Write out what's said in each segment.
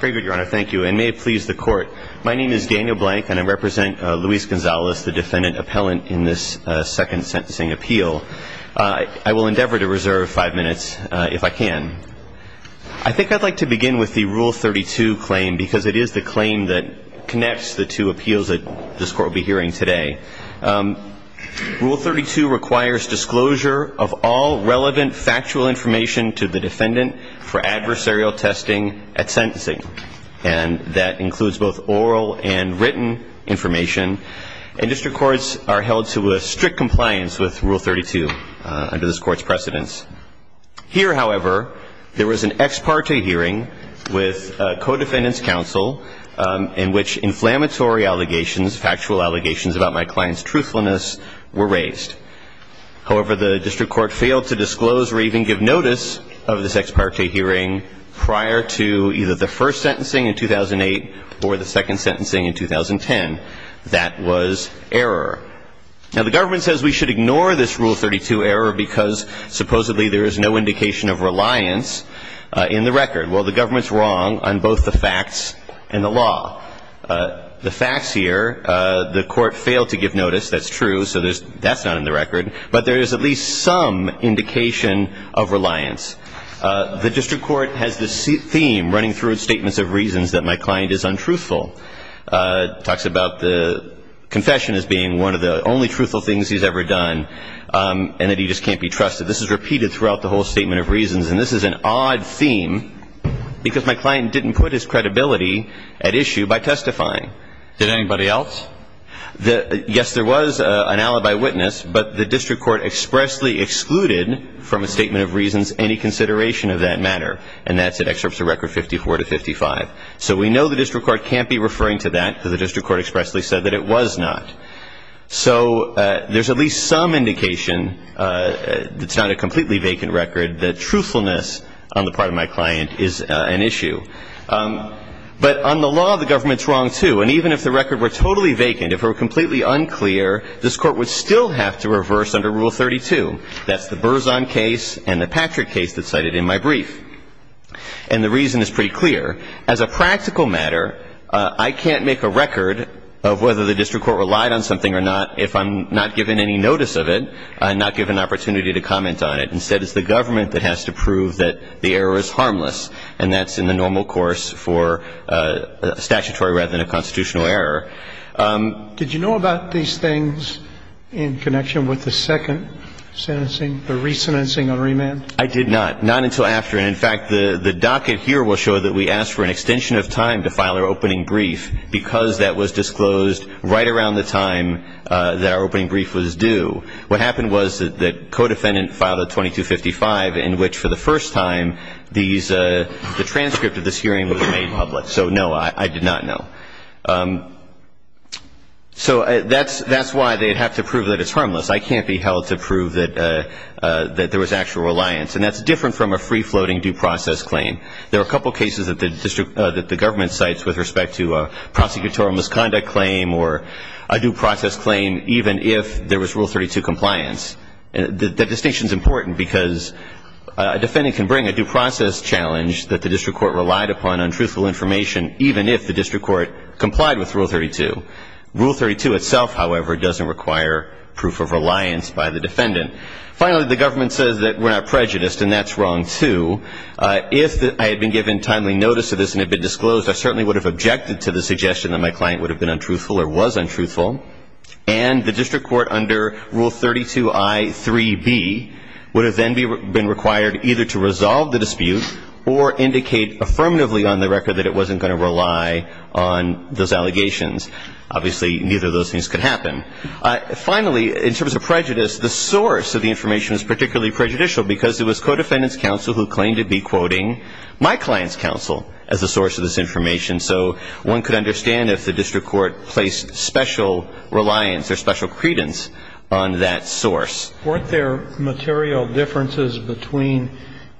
Very good, your honor. Thank you. And may it please the court, my name is Daniel Blank and I represent Luis Gonzalez, the defendant appellant in this second sentencing appeal. I will endeavor to reserve five minutes if I can. I think I'd like to begin with the Rule 32 claim because it is the claim that connects the two appeals that this court will be hearing today. Rule 32 requires disclosure of all relevant factual information to the defendant for adversarial testing at sentencing. And that includes both oral and written information. And district courts are held to a strict compliance with Rule 32 under this court's precedence. Here, however, there was an ex parte hearing with a co-defendant's counsel in which inflammatory allegations, factual allegations about my client's truthfulness were raised. However, the district court failed to disclose or even give notice of this ex parte hearing prior to either the first sentencing in 2008 or the second sentencing in 2010. That was error. Now, the government says we should ignore this Rule 32 error because supposedly there is no indication of reliance in the record. Well, the government's wrong on both the facts and the law. The facts here, the court failed to give notice, that's true, so that's not an indication of reliance. But there is at least some indication of reliance. The district court has this theme running through its statements of reasons that my client is untruthful. Talks about the confession as being one of the only truthful things he's ever done and that he just can't be trusted. This is repeated throughout the whole statement of reasons. And this is an odd theme because my client didn't put his credibility at issue by testifying. Did anybody else? Yes, there was an alibi witness, but the district court expressly excluded from a statement of reasons any consideration of that matter. And that's in excerpts of record 54 to 55. So we know the district court can't be referring to that because the district court expressly said that it was not. So there's at least some indication, it's not a completely vacant record, that truthfulness on the part of my client is an issue. But on the law, the government's wrong, too. And even if the record were totally vacant, if it were completely unclear, this court would still have to reverse under Rule 32. That's the Berzon case and the Patrick case that's cited in my brief. And the reason is pretty clear. As a practical matter, I can't make a record of whether the district court relied on something or not if I'm not given any notice of it, I'm not given an opportunity to comment on it. Instead, it's the government that has to prove that the error is harmless. And that's in the normal way. So no, I did not know. So that's why they'd have to prove that it's harmless. I can't be held to prove that there was actual reliance. And that's different from a free-floating due process claim. There are a couple cases that the government cites with respect to a prosecutorial misconduct claim or a due process claim even if there was Rule 32 compliance. That distinction is important because a defendant can bring a due process challenge that the district court relied upon on truthful information even if the district court complied with Rule 32. Rule 32 itself, however, doesn't require proof of reliance by the defendant. Finally, the government says that we're not prejudiced, and that's wrong, too. If I had been given timely notice of this and it had been disclosed, I certainly would have objected to the suggestion that my client would have been untruthful or was untruthful. And the district court under Rule 32I.3.B. would have then been required either to resolve the dispute or indicate affirmatively on the record that it wasn't going to rely on those allegations. Obviously, neither of those things could happen. Finally, in terms of prejudice, the source of the information is particularly prejudicial because it was codefendant's counsel who claimed to be quoting my client's counsel as the source of this information. So one could understand if the district court placed special reliance or special credence on that source. Weren't there material differences between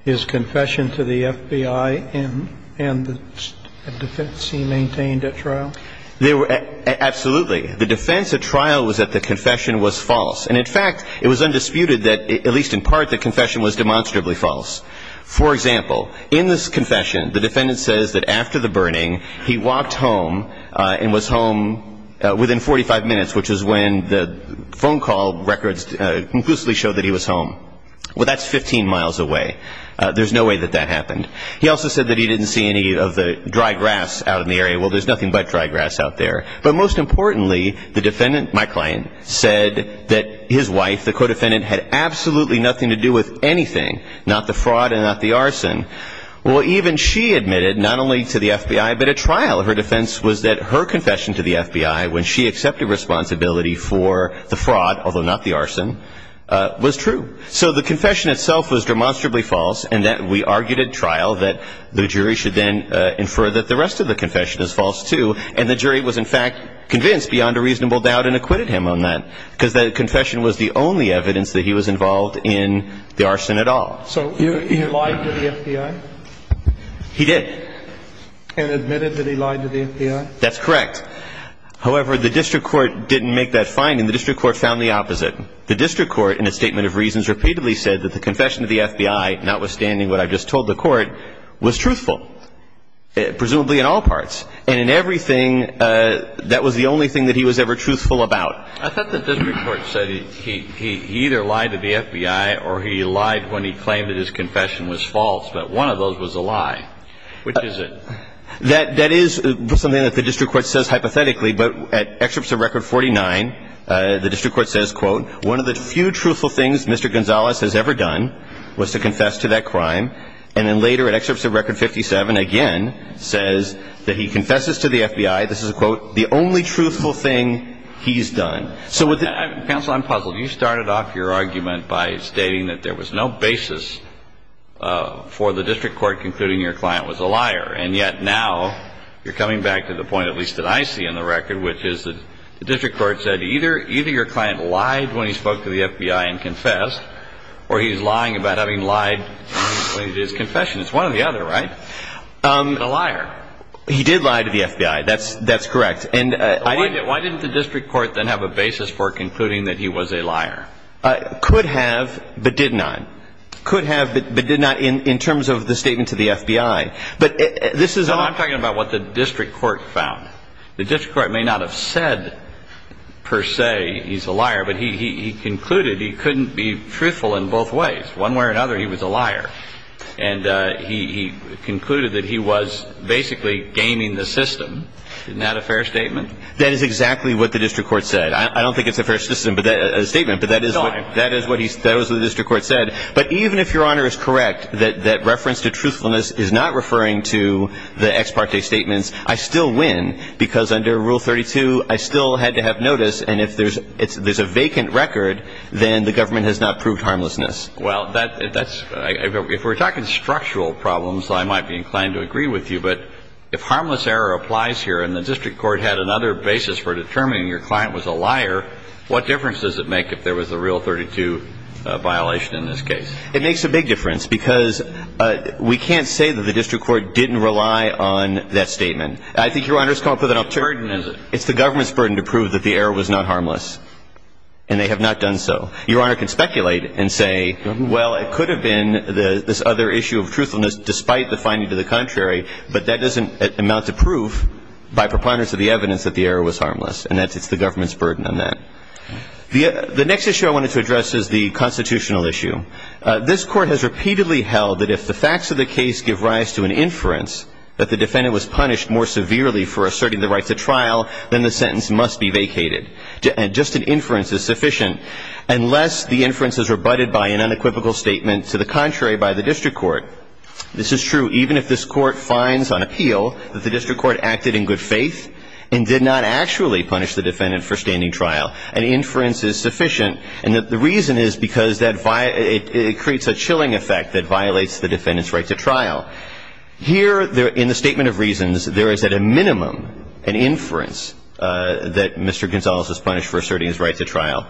his confession to the FBI and the defense he maintained at trial? Absolutely. The defense at trial was that the confession was false. And, in fact, it was undisputed that, at least in part, the confession was demonstrably false. For example, in this confession, the defendant says that after the burning, he walked home and was home within 45 minutes, which is when the phone call records conclusively show that he was home. Well, that's 15 miles away. There's no way that that happened. He also said that he didn't see any of the dry grass out in the area. Well, there's nothing but dry grass out there. But, most importantly, the defendant, my client, said that his wife, the codefendant, had absolutely nothing to do with anything, not the fraud and not the arson. Well, even she admitted, not only to the FBI, but at trial, her defense was that her confession to the FBI when she accepted responsibility for the fraud, although not the arson, was true. So the confession itself was demonstrably false and that we argued at trial that the jury should then infer that the rest of the confession is false, too. And the jury was, in fact, convinced beyond a reasonable doubt and acquitted him on that because the confession was the only evidence that he was involved in the arson at all. So he lied to the FBI? He did. And admitted that he lied to the FBI? That's correct. However, the district court didn't make that finding. The district court found the opposite. The district court, in a statement of reasons, repeatedly said that the confession to the FBI, notwithstanding what I've just told the court, was truthful, presumably in all parts. And in everything, that was the only thing that he was ever truthful about. I thought the district court said he either lied to the FBI or he lied when he claimed that his confession was false, but one of those was a lie. Which is it? That is something that the district court says hypothetically, but at Excerpts of Record 49, the district court says, quote, one of the few truthful things Mr. Gonzalez has ever done was to confess to that crime. And then later, at Excerpts of Record 57, again, says that he confesses to the FBI, this is a quote, the only truthful thing he's done. Counsel, I'm puzzled. You started off your argument by stating that there was no basis for the district court concluding your client was a liar. And yet now, you're coming back to the point, at least that I see in the record, which is that the district court said either your client lied when he spoke to the FBI and confessed, or he's lying about having lied when he did his confession. It's one or the other, right? He's a liar. He did lie to the FBI. That's correct. Why didn't the district court then have a basis for concluding that he was a liar? Could have, but did not. Could have, but did not in terms of the statement to the FBI. No, I'm talking about what the district court found. The district court may not have said, per se, he's a liar, but he concluded he couldn't be truthful in both ways. One way or another, he was a liar. And he concluded that he was basically gaming the system. Isn't that a fair statement? That is exactly what the district court said. I don't think it's a fair statement, but that is what the district court said. But even if Your Honor is correct that reference to truthfulness is not referring to the ex parte statements, I still win, because under Rule 32, I still had to have notice, and if there's a vacant record, then the government has not proved harmlessness. Well, if we're talking structural problems, I might be inclined to agree with you, but if harmless error applies here and the district court had another basis for determining your client was a liar, what difference does it make if there was a Rule 32 violation in this case? It makes a big difference, because we can't say that the district court didn't rely on that statement. I think Your Honor's come up with an alternative. What burden is it? It's the government's burden to prove that the error was not harmless, and they have not done so. Your Honor can speculate and say, well, it could have been this other issue of truthfulness despite the finding to the contrary, but that doesn't amount to proof by preponderance of the evidence that the error was harmless, and it's the government's burden on that. The next issue I wanted to address is the constitutional issue. This Court has repeatedly held that if the facts of the case give rise to an inference that the defendant was punished more severely for asserting the right to trial, then the sentence must be vacated. Just an inference is sufficient unless the inference is rebutted by an unequivocal statement to the contrary by the district court. This is true even if this Court finds on appeal that the district court acted in good faith and did not actually punish the defendant for standing trial. An inference is sufficient, and the reason is because it creates a chilling effect that violates the defendant's right to trial. Here, in the statement of reasons, there is at a minimum an inference that Mr. Gonzales was punished for asserting his right to trial.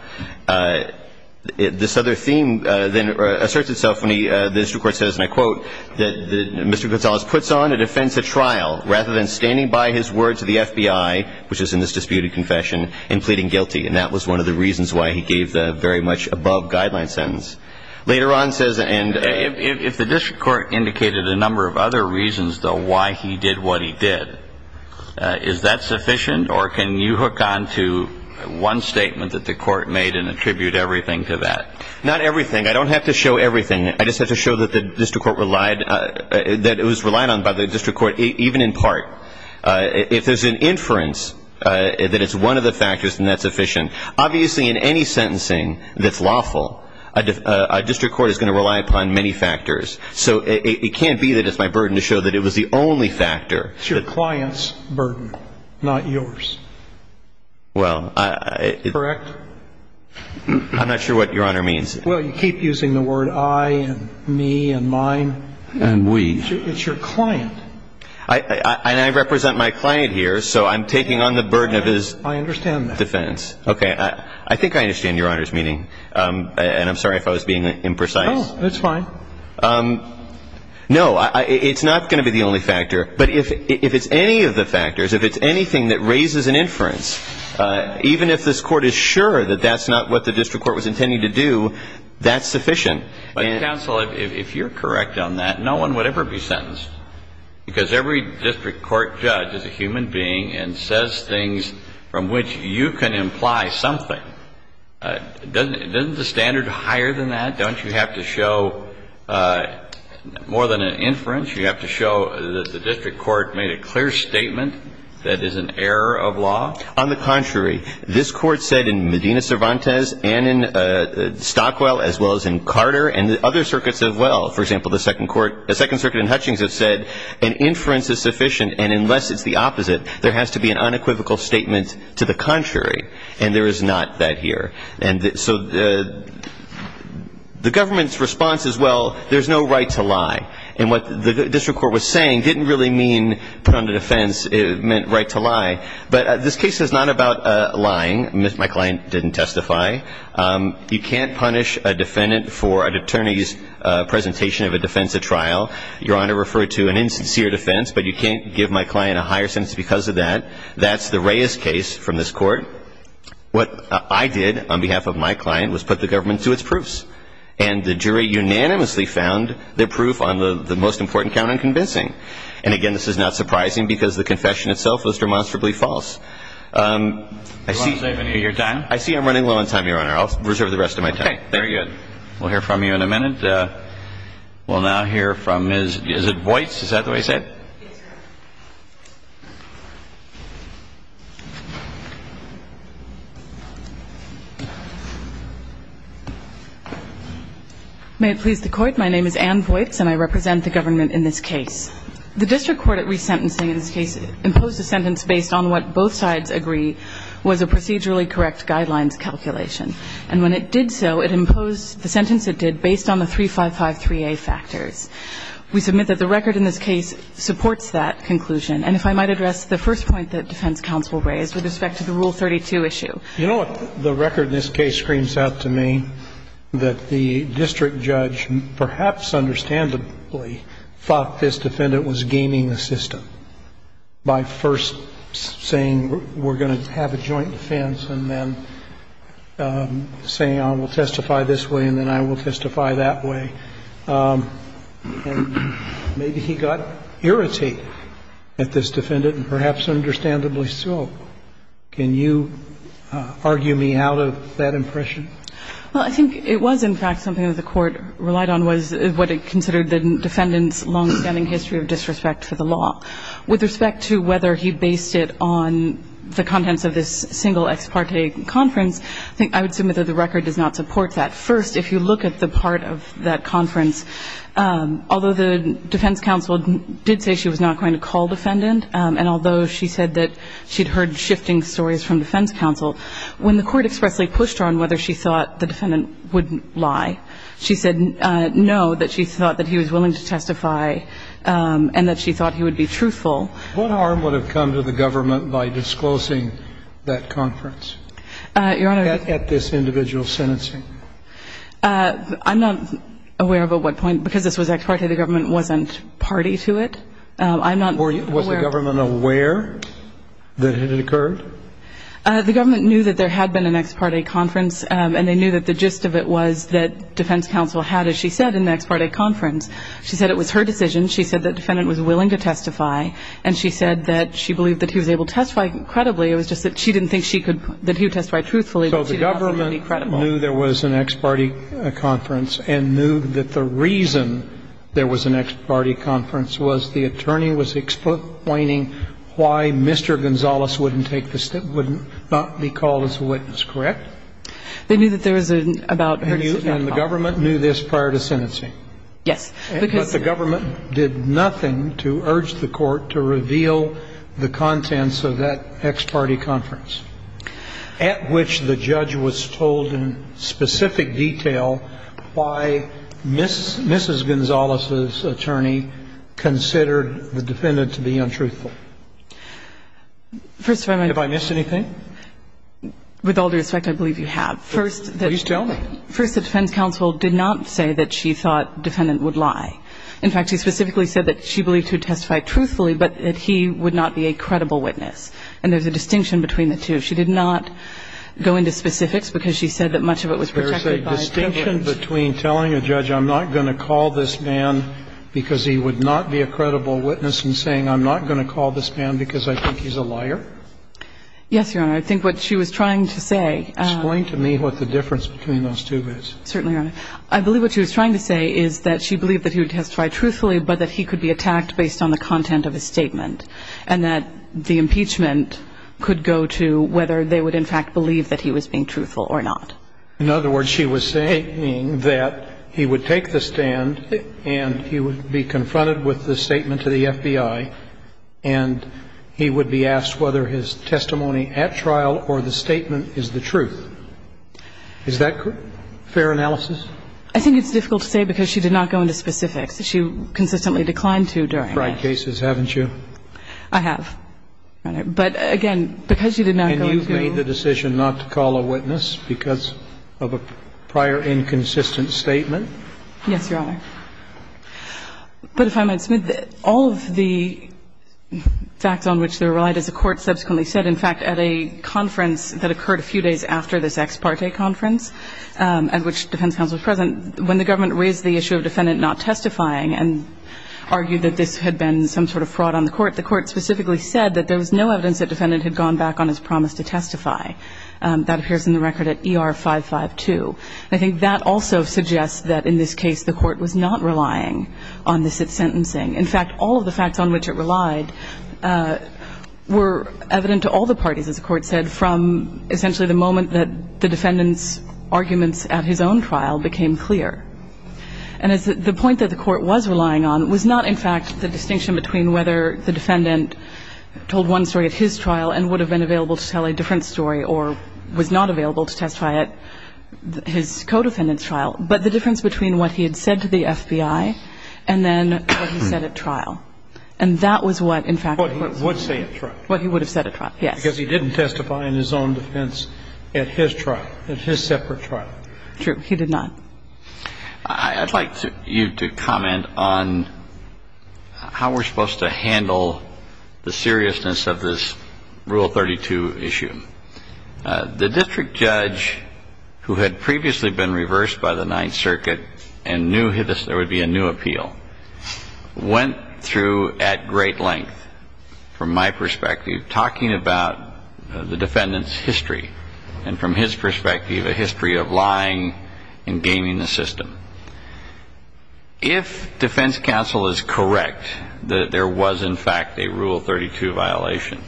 This other theme then asserts itself when the district court says, and I quote, that Mr. Gonzales puts on a defense at trial rather than standing by his word to the FBI, which is in this disputed confession, and pleading guilty, and that was one of the reasons why he gave the very much above guideline sentence. Later on says, and if the district court indicated a number of other reasons, though, why he did what he did, is that sufficient, or can you hook on to one statement that the court made and attribute everything to that? Not everything. I don't have to show everything. I just have to show that the district court relied, that it was relied on by the district court, even in part. If there's an inference that it's one of the factors, then that's sufficient. Obviously, in any sentencing that's lawful, a district court is going to rely upon many factors. So it can't be that it's my burden to show that it was the only factor. It's your client's burden, not yours. Well, I... Correct? I'm not sure what Your Honor means. Well, you keep using the word I and me and mine. And we. It's your client. And I represent my client here, so I'm taking on the burden of his defense. I understand that. Okay. I think I understand Your Honor's meaning. And I'm sorry if I was being imprecise. Oh, that's fine. No, it's not going to be the only factor. But if it's any of the factors, if it's anything that raises an inference, even if this court is sure that that's not what the district court was intending to do, that's sufficient. Counsel, if you're correct on that, no one would ever be sentenced. Because every district court judge is a human being and says things from which you can imply something. Doesn't the standard higher than that? Don't you have to show more than an inference? You have to show that the district court made a clear statement that is an error of law? On the contrary. This court said in Medina Cervantes and in Stockwell as well as in Carter and the other circuits as well. For example, the Second Circuit in Hutchings has said an inference is sufficient, and unless it's the opposite, there has to be an unequivocal statement to the contrary. And there is not that here. And so the government's response is, well, there's no right to lie. And what the district court was saying didn't really mean put on the defense meant right to lie. But this case is not about lying. My client didn't testify. You can't punish a defendant for an attorney's presentation of a defense at trial. Your Honor referred to an insincere defense, but you can't give my client a higher sentence because of that. That's the Reyes case from this court. What I did on behalf of my client was put the government to its proofs, and the jury unanimously found their proof on the most important count unconvincing. And, again, this is not surprising because the confession itself was demonstrably false. I see you're done. I see I'm running low on time, Your Honor. I'll reserve the rest of my time. Okay, very good. We'll hear from you in a minute. We'll now hear from Ms. Voits. Is that the way you say it? Yes, Your Honor. May it please the Court. My name is Ann Voits, and I represent the government in this case. The district court at resentencing in this case imposed a sentence based on what both sides agree was a procedurally correct guidelines calculation. And when it did so, it imposed the sentence it did based on the 3553A factors. We submit that the record in this case supports that conclusion. And if I might address the first point that defense counsel raised with respect to the Rule 32 issue. You know what? The record in this case screams out to me that the district judge perhaps understandably thought this defendant was gaining a system by first saying we're going to have a joint defense and then saying I will testify this way and then I will testify that way. And maybe he got irritated at this defendant, and perhaps understandably so. Can you argue me out of that impression? I think something that the Court relied on was what it considered the defendant's longstanding history of disrespect for the law. With respect to whether he based it on the contents of this single ex parte conference, I would submit that the record does not support that. First, if you look at the part of that conference, although the defense counsel did say she was not going to call defendant, and although she said that she'd heard shifting stories from defense counsel, when the Court expressly pushed her on whether she thought the defendant would lie, she said no, that she thought that he was willing to testify and that she thought he would be truthful. What harm would have come to the government by disclosing that conference? Your Honor. At this individual sentencing? I'm not aware of at what point, because this was ex parte, the government wasn't party to it. Was the government aware that it had occurred? The government knew that there had been an ex parte conference, and they knew that the gist of it was that defense counsel had, as she said, an ex parte conference. She said it was her decision. She said the defendant was willing to testify, and she said that she believed that he was able to testify credibly. It was just that she didn't think that he would testify truthfully. So the government knew there was an ex parte conference and knew that the reason there was an ex parte conference was the attorney was explaining why Mr. Gonzales wouldn't take the step, wouldn't not be called as a witness. Correct? They knew that there was an about her decision. And the government knew this prior to sentencing? Yes. But the government did nothing to urge the Court to reveal the contents of that ex parte conference, at which the judge was told in specific detail why Mrs. Gonzales's attorney considered the defendant to be untruthful. First of all, my ---- Have I missed anything? With all due respect, I believe you have. Please tell me. First, the defense counsel did not say that she thought the defendant would lie. In fact, she specifically said that she believed he would testify truthfully, but that he would not be a credible witness. And there's a distinction between the two. She did not go into specifics, because she said that much of it was protected by a witness. There's a distinction between telling a judge I'm not going to call this man because he would not be a credible witness and saying I'm not going to call this man because I think he's a liar? Yes, Your Honor. I think what she was trying to say ---- Explain to me what the difference between those two is. Certainly, Your Honor. I believe what she was trying to say is that she believed that he would testify truthfully, but that he could be attacked based on the content of his statement, and that the impeachment could go to whether they would in fact believe that he was being truthful or not. In other words, she was saying that he would take the stand and he would be confronted with the statement to the FBI, and he would be asked whether his testimony at trial or the statement is the truth. Is that fair analysis? I think it's difficult to say because she did not go into specifics. She consistently declined to during that case. You've tried cases, haven't you? I have, Your Honor. But, again, because you did not go to ---- And you've made the decision not to call a witness because of a prior inconsistent statement? Yes, Your Honor. But if I might, Smith, all of the facts on which they were relied, as the Court subsequently said, in fact, at a conference that occurred a few days after this ex parte conference at which defense counsel was present, when the government raised the issue of defendant not testifying and argued that this had been some sort of fraud on the Court, the Court specifically said that there was no evidence that defendant had gone back on his promise to testify. That appears in the record at ER 552. I think that also suggests that in this case the Court was not relying on this sentencing. In fact, all of the facts on which it relied were evident to all the parties, as the Court said, from essentially the moment that the defendant's arguments at his own trial became clear. And the point that the Court was relying on was not, in fact, the distinction between whether the defendant told one story at his trial and would have been available to tell a different story or was not available to testify at his co-defendant's trial, but the difference between what he had said to the FBI and then what he said at trial. And that was what, in fact, the Court said. What he would say at trial. What he would have said at trial, yes. Because he didn't testify in his own defense at his trial, at his separate trial. True. He did not. I'd like you to comment on how we're supposed to handle the seriousness of this Rule 32 issue. The district judge, who had previously been reversed by the Ninth Circuit and knew there would be a new appeal, went through at great length, from my perspective, talking about the defendant's history and, from his perspective, a history of lying and gaming the system. If defense counsel is correct that there was, in fact, a Rule 32 violation,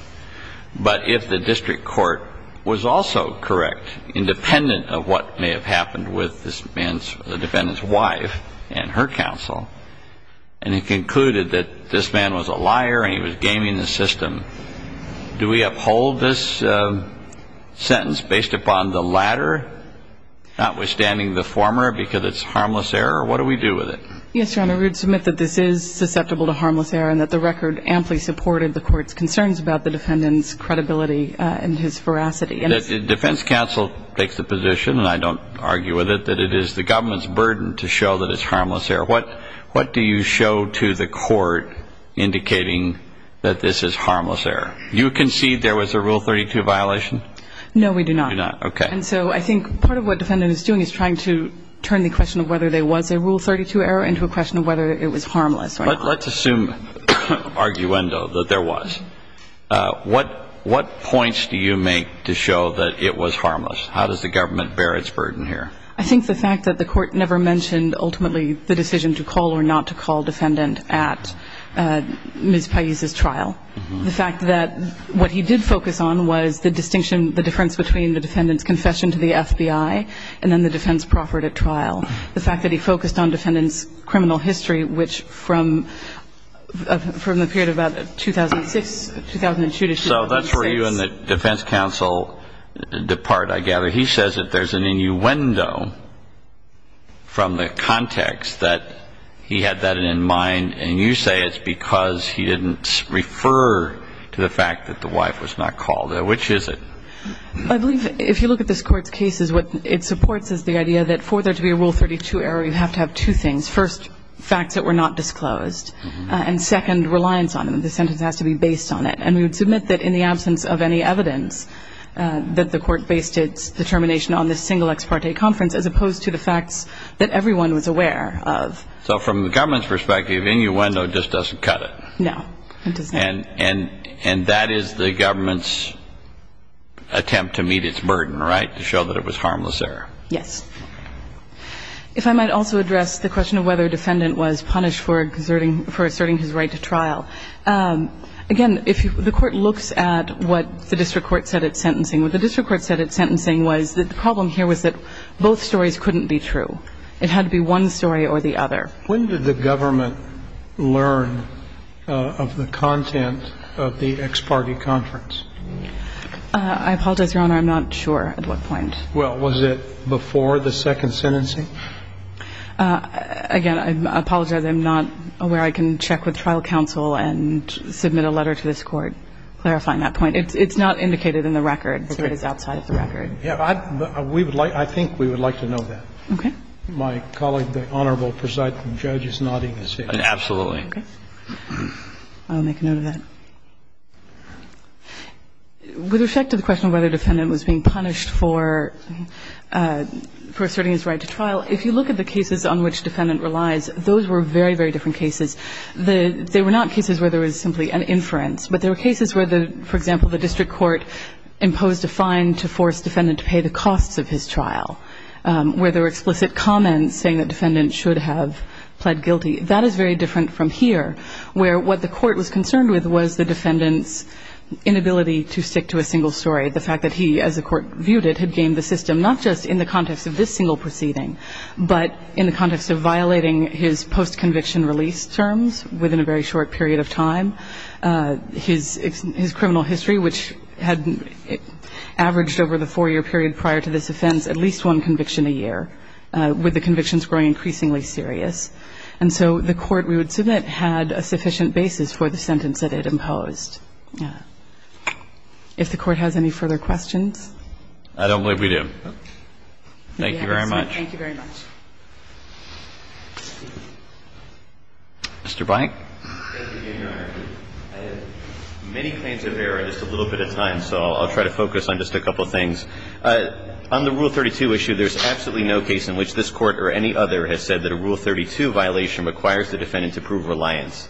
but if the district court was also correct, independent of what may have happened with the defendant's wife and her counsel, and he concluded that this man was a liar and he was gaming the system, do we uphold this sentence based upon the latter, notwithstanding the former, because it's harmless error? What do we do with it? Yes, Your Honor. We would submit that this is susceptible to harmless error and that the record amply supported the Court's concerns about the defendant's credibility and his veracity. That defense counsel takes the position, and I don't argue with it, that it is the government's burden to show that it's harmless error. What do you show to the court indicating that this is harmless error? You concede there was a Rule 32 violation? No, we do not. You do not. Okay. And so I think part of what the defendant is doing is trying to turn the question of whether there was a Rule 32 error into a question of whether it was harmless or not. Let's assume, arguendo, that there was. What points do you make to show that it was harmless? How does the government bear its burden here? I think the fact that the Court never mentioned ultimately the decision to call or not to call defendant at Ms. Pais's trial. The fact that what he did focus on was the distinction, the difference between the defendant's confession to the FBI and then the defense proffered at trial. The fact that he focused on defendant's criminal history, which from the period of about 2006, 2002 to 2006. So that's where you and the defense counsel depart, I gather. He says that there's an innuendo from the context that he had that in mind, and you say it's because he didn't refer to the fact that the wife was not called. Which is it? I believe if you look at this Court's cases, what it supports is the idea that for there to be a Rule 32 error, you have to have two things. First, facts that were not disclosed. And second, reliance on them. The sentence has to be based on it. And we would submit that in the absence of any evidence, that the Court based its determination on this single ex parte conference as opposed to the facts that everyone was aware of. So from the government's perspective, innuendo just doesn't cut it. No, it does not. And that is the government's attempt to meet its burden, right? To show that it was harmless error. Yes. If I might also address the question of whether a defendant was punished for asserting his right to trial. Again, if the Court looks at what the district court said at sentencing, what the district court said at sentencing was that the problem here was that both stories couldn't be true. It had to be one story or the other. When did the government learn of the content of the ex parte conference? I apologize, Your Honor, I'm not sure at what point. Well, was it before the second sentencing? Again, I apologize, I'm not aware. I can check with trial counsel and submit a letter to this Court clarifying that point. It's not indicated in the record. It is outside of the record. Yeah. I think we would like to know that. Okay. My colleague, the Honorable Presiding Judge is nodding his head. Absolutely. Okay. I'll make a note of that. With respect to the question of whether a defendant was being punished for asserting his right to trial, if you look at the cases on which defendant relies, those were very, very different cases. They were not cases where there was simply an inference. But there were cases where, for example, the district court imposed a fine to force defendant to pay the costs of his trial, where there were explicit comments saying that defendant should have pled guilty. That is very different from here, where what the court was concerned with was the defendant's inability to stick to a single story, the fact that he, as the court viewed it, had gamed the system not just in the context of this single proceeding but in the context of violating his post-conviction release terms within a very short period of time. His criminal history, which had averaged over the four-year period prior to this offense, at least one conviction a year, with the convictions growing increasingly serious. And so the court, we would submit, had a sufficient basis for the sentence that it imposed. Yeah. If the court has any further questions? I don't believe we do. Thank you very much. Mr. Blank. I have many claims of error, just a little bit at a time, so I'll try to focus on just a couple of things. On the Rule 32 issue, there's absolutely no case in which this Court or any other has said that a Rule 32 violation requires the defendant to prove reliance.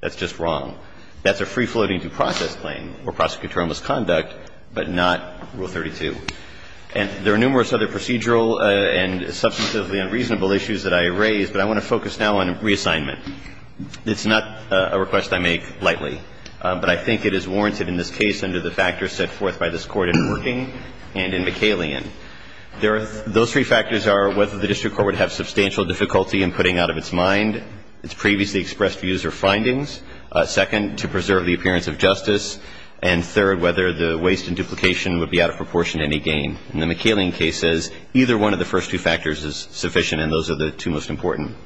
That's just wrong. That's a free-floating due process claim or prosecutorial misconduct, but not Rule 32. And there are numerous other procedural and substantively unreasonable issues that I have raised, but I want to focus now on reassignment. It's not a request I make lightly, but I think it is warranted in this case under the factors set forth by this Court in Working and in McCallion. Those three factors are whether the district court would have substantial difficulty in putting out of its mind its previously expressed views or findings, second, to preserve the appearance of justice, and third, whether the waste and duplication would be out of proportion to any gain. And the McCallion case says either one of the first two factors is sufficient and those are the two most important.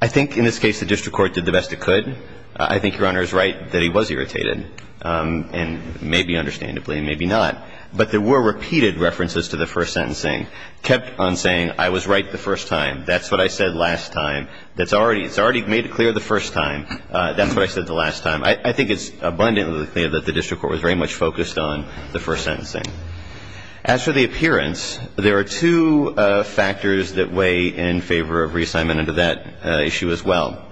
I think in this case the district court did the best it could. I think Your Honor is right that he was irritated, and maybe understandably and maybe not. But there were repeated references to the first sentencing, kept on saying I was right the first time, that's what I said last time. It's already made clear the first time, that's what I said the last time. I think it's abundantly clear that the district court was very much focused on the first sentencing. As for the appearance, there are two factors that weigh in favor of reassignment under that issue as well.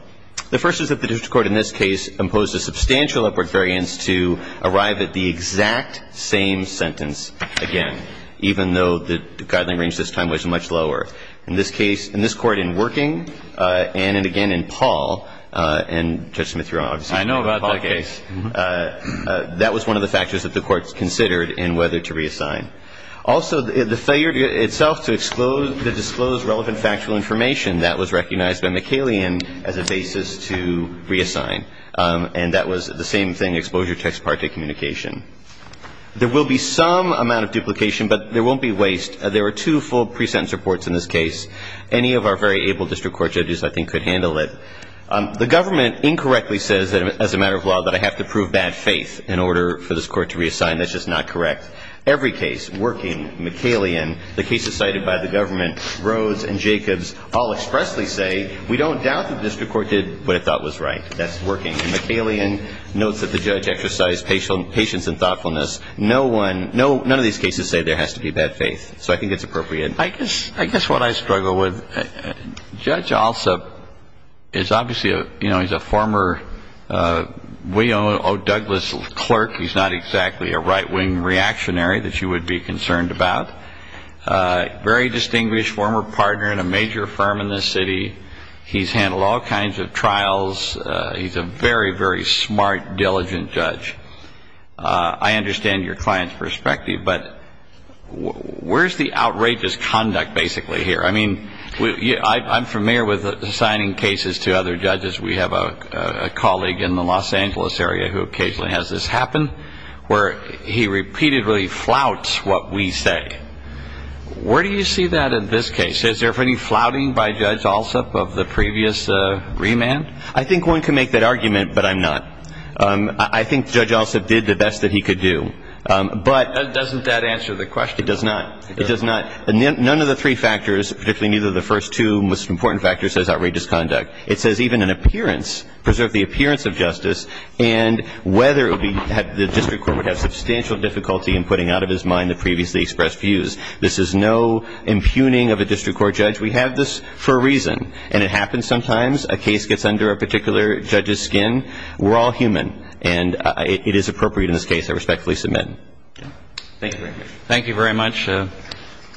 The first is that the district court in this case imposed a substantial upward variance to arrive at the exact same sentence again, even though the guideline range this time was much lower. In this case, in this Court in Working, and again in Paul, and Judge Smith, Your Honor, in my case, that was one of the factors that the courts considered in whether to reassign. Also, the failure itself to disclose relevant factual information, that was recognized by McCallion as a basis to reassign. And that was the same thing, exposure text part to communication. There will be some amount of duplication, but there won't be waste. There were two full pre-sentence reports in this case. Any of our very able district court judges, I think, could handle it. The government incorrectly says as a matter of law that I have to prove bad faith in order for this Court to reassign. That's just not correct. Every case, Working, McCallion, the cases cited by the government, Rhodes, and Jacobs all expressly say we don't doubt the district court did what it thought was right. That's Working. And McCallion notes that the judge exercised patience and thoughtfulness. No one, none of these cases say there has to be bad faith. So I think it's appropriate. I guess what I struggle with, Judge Alsop is obviously, you know, he's a former William O. Douglas clerk. He's not exactly a right-wing reactionary that you would be concerned about. Very distinguished former partner in a major firm in this city. He's handled all kinds of trials. He's a very, very smart, diligent judge. I understand your client's perspective. But where's the outrageous conduct basically here? I mean, I'm familiar with assigning cases to other judges. We have a colleague in the Los Angeles area who occasionally has this happen, where he repeatedly flouts what we say. Where do you see that in this case? Is there any flouting by Judge Alsop of the previous remand? I think one can make that argument, but I'm not. I think Judge Alsop did the best that he could do. But doesn't that answer the question? It does not. It does not. None of the three factors, particularly neither of the first two most important factors, says outrageous conduct. It says even in appearance, preserve the appearance of justice, and whether the district court would have substantial difficulty in putting out of his mind the previously expressed views. This is no impugning of a district court judge. We have this for a reason. And it happens sometimes. A case gets under a particular judge's skin. We're all human. And it is appropriate in this case. I respectfully submit. Thank you very much. Thank you very much,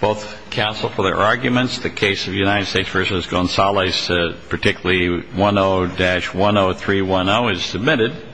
both counsel, for their arguments. The case of United States v. Gonzalez, particularly 10-10310, is submitted.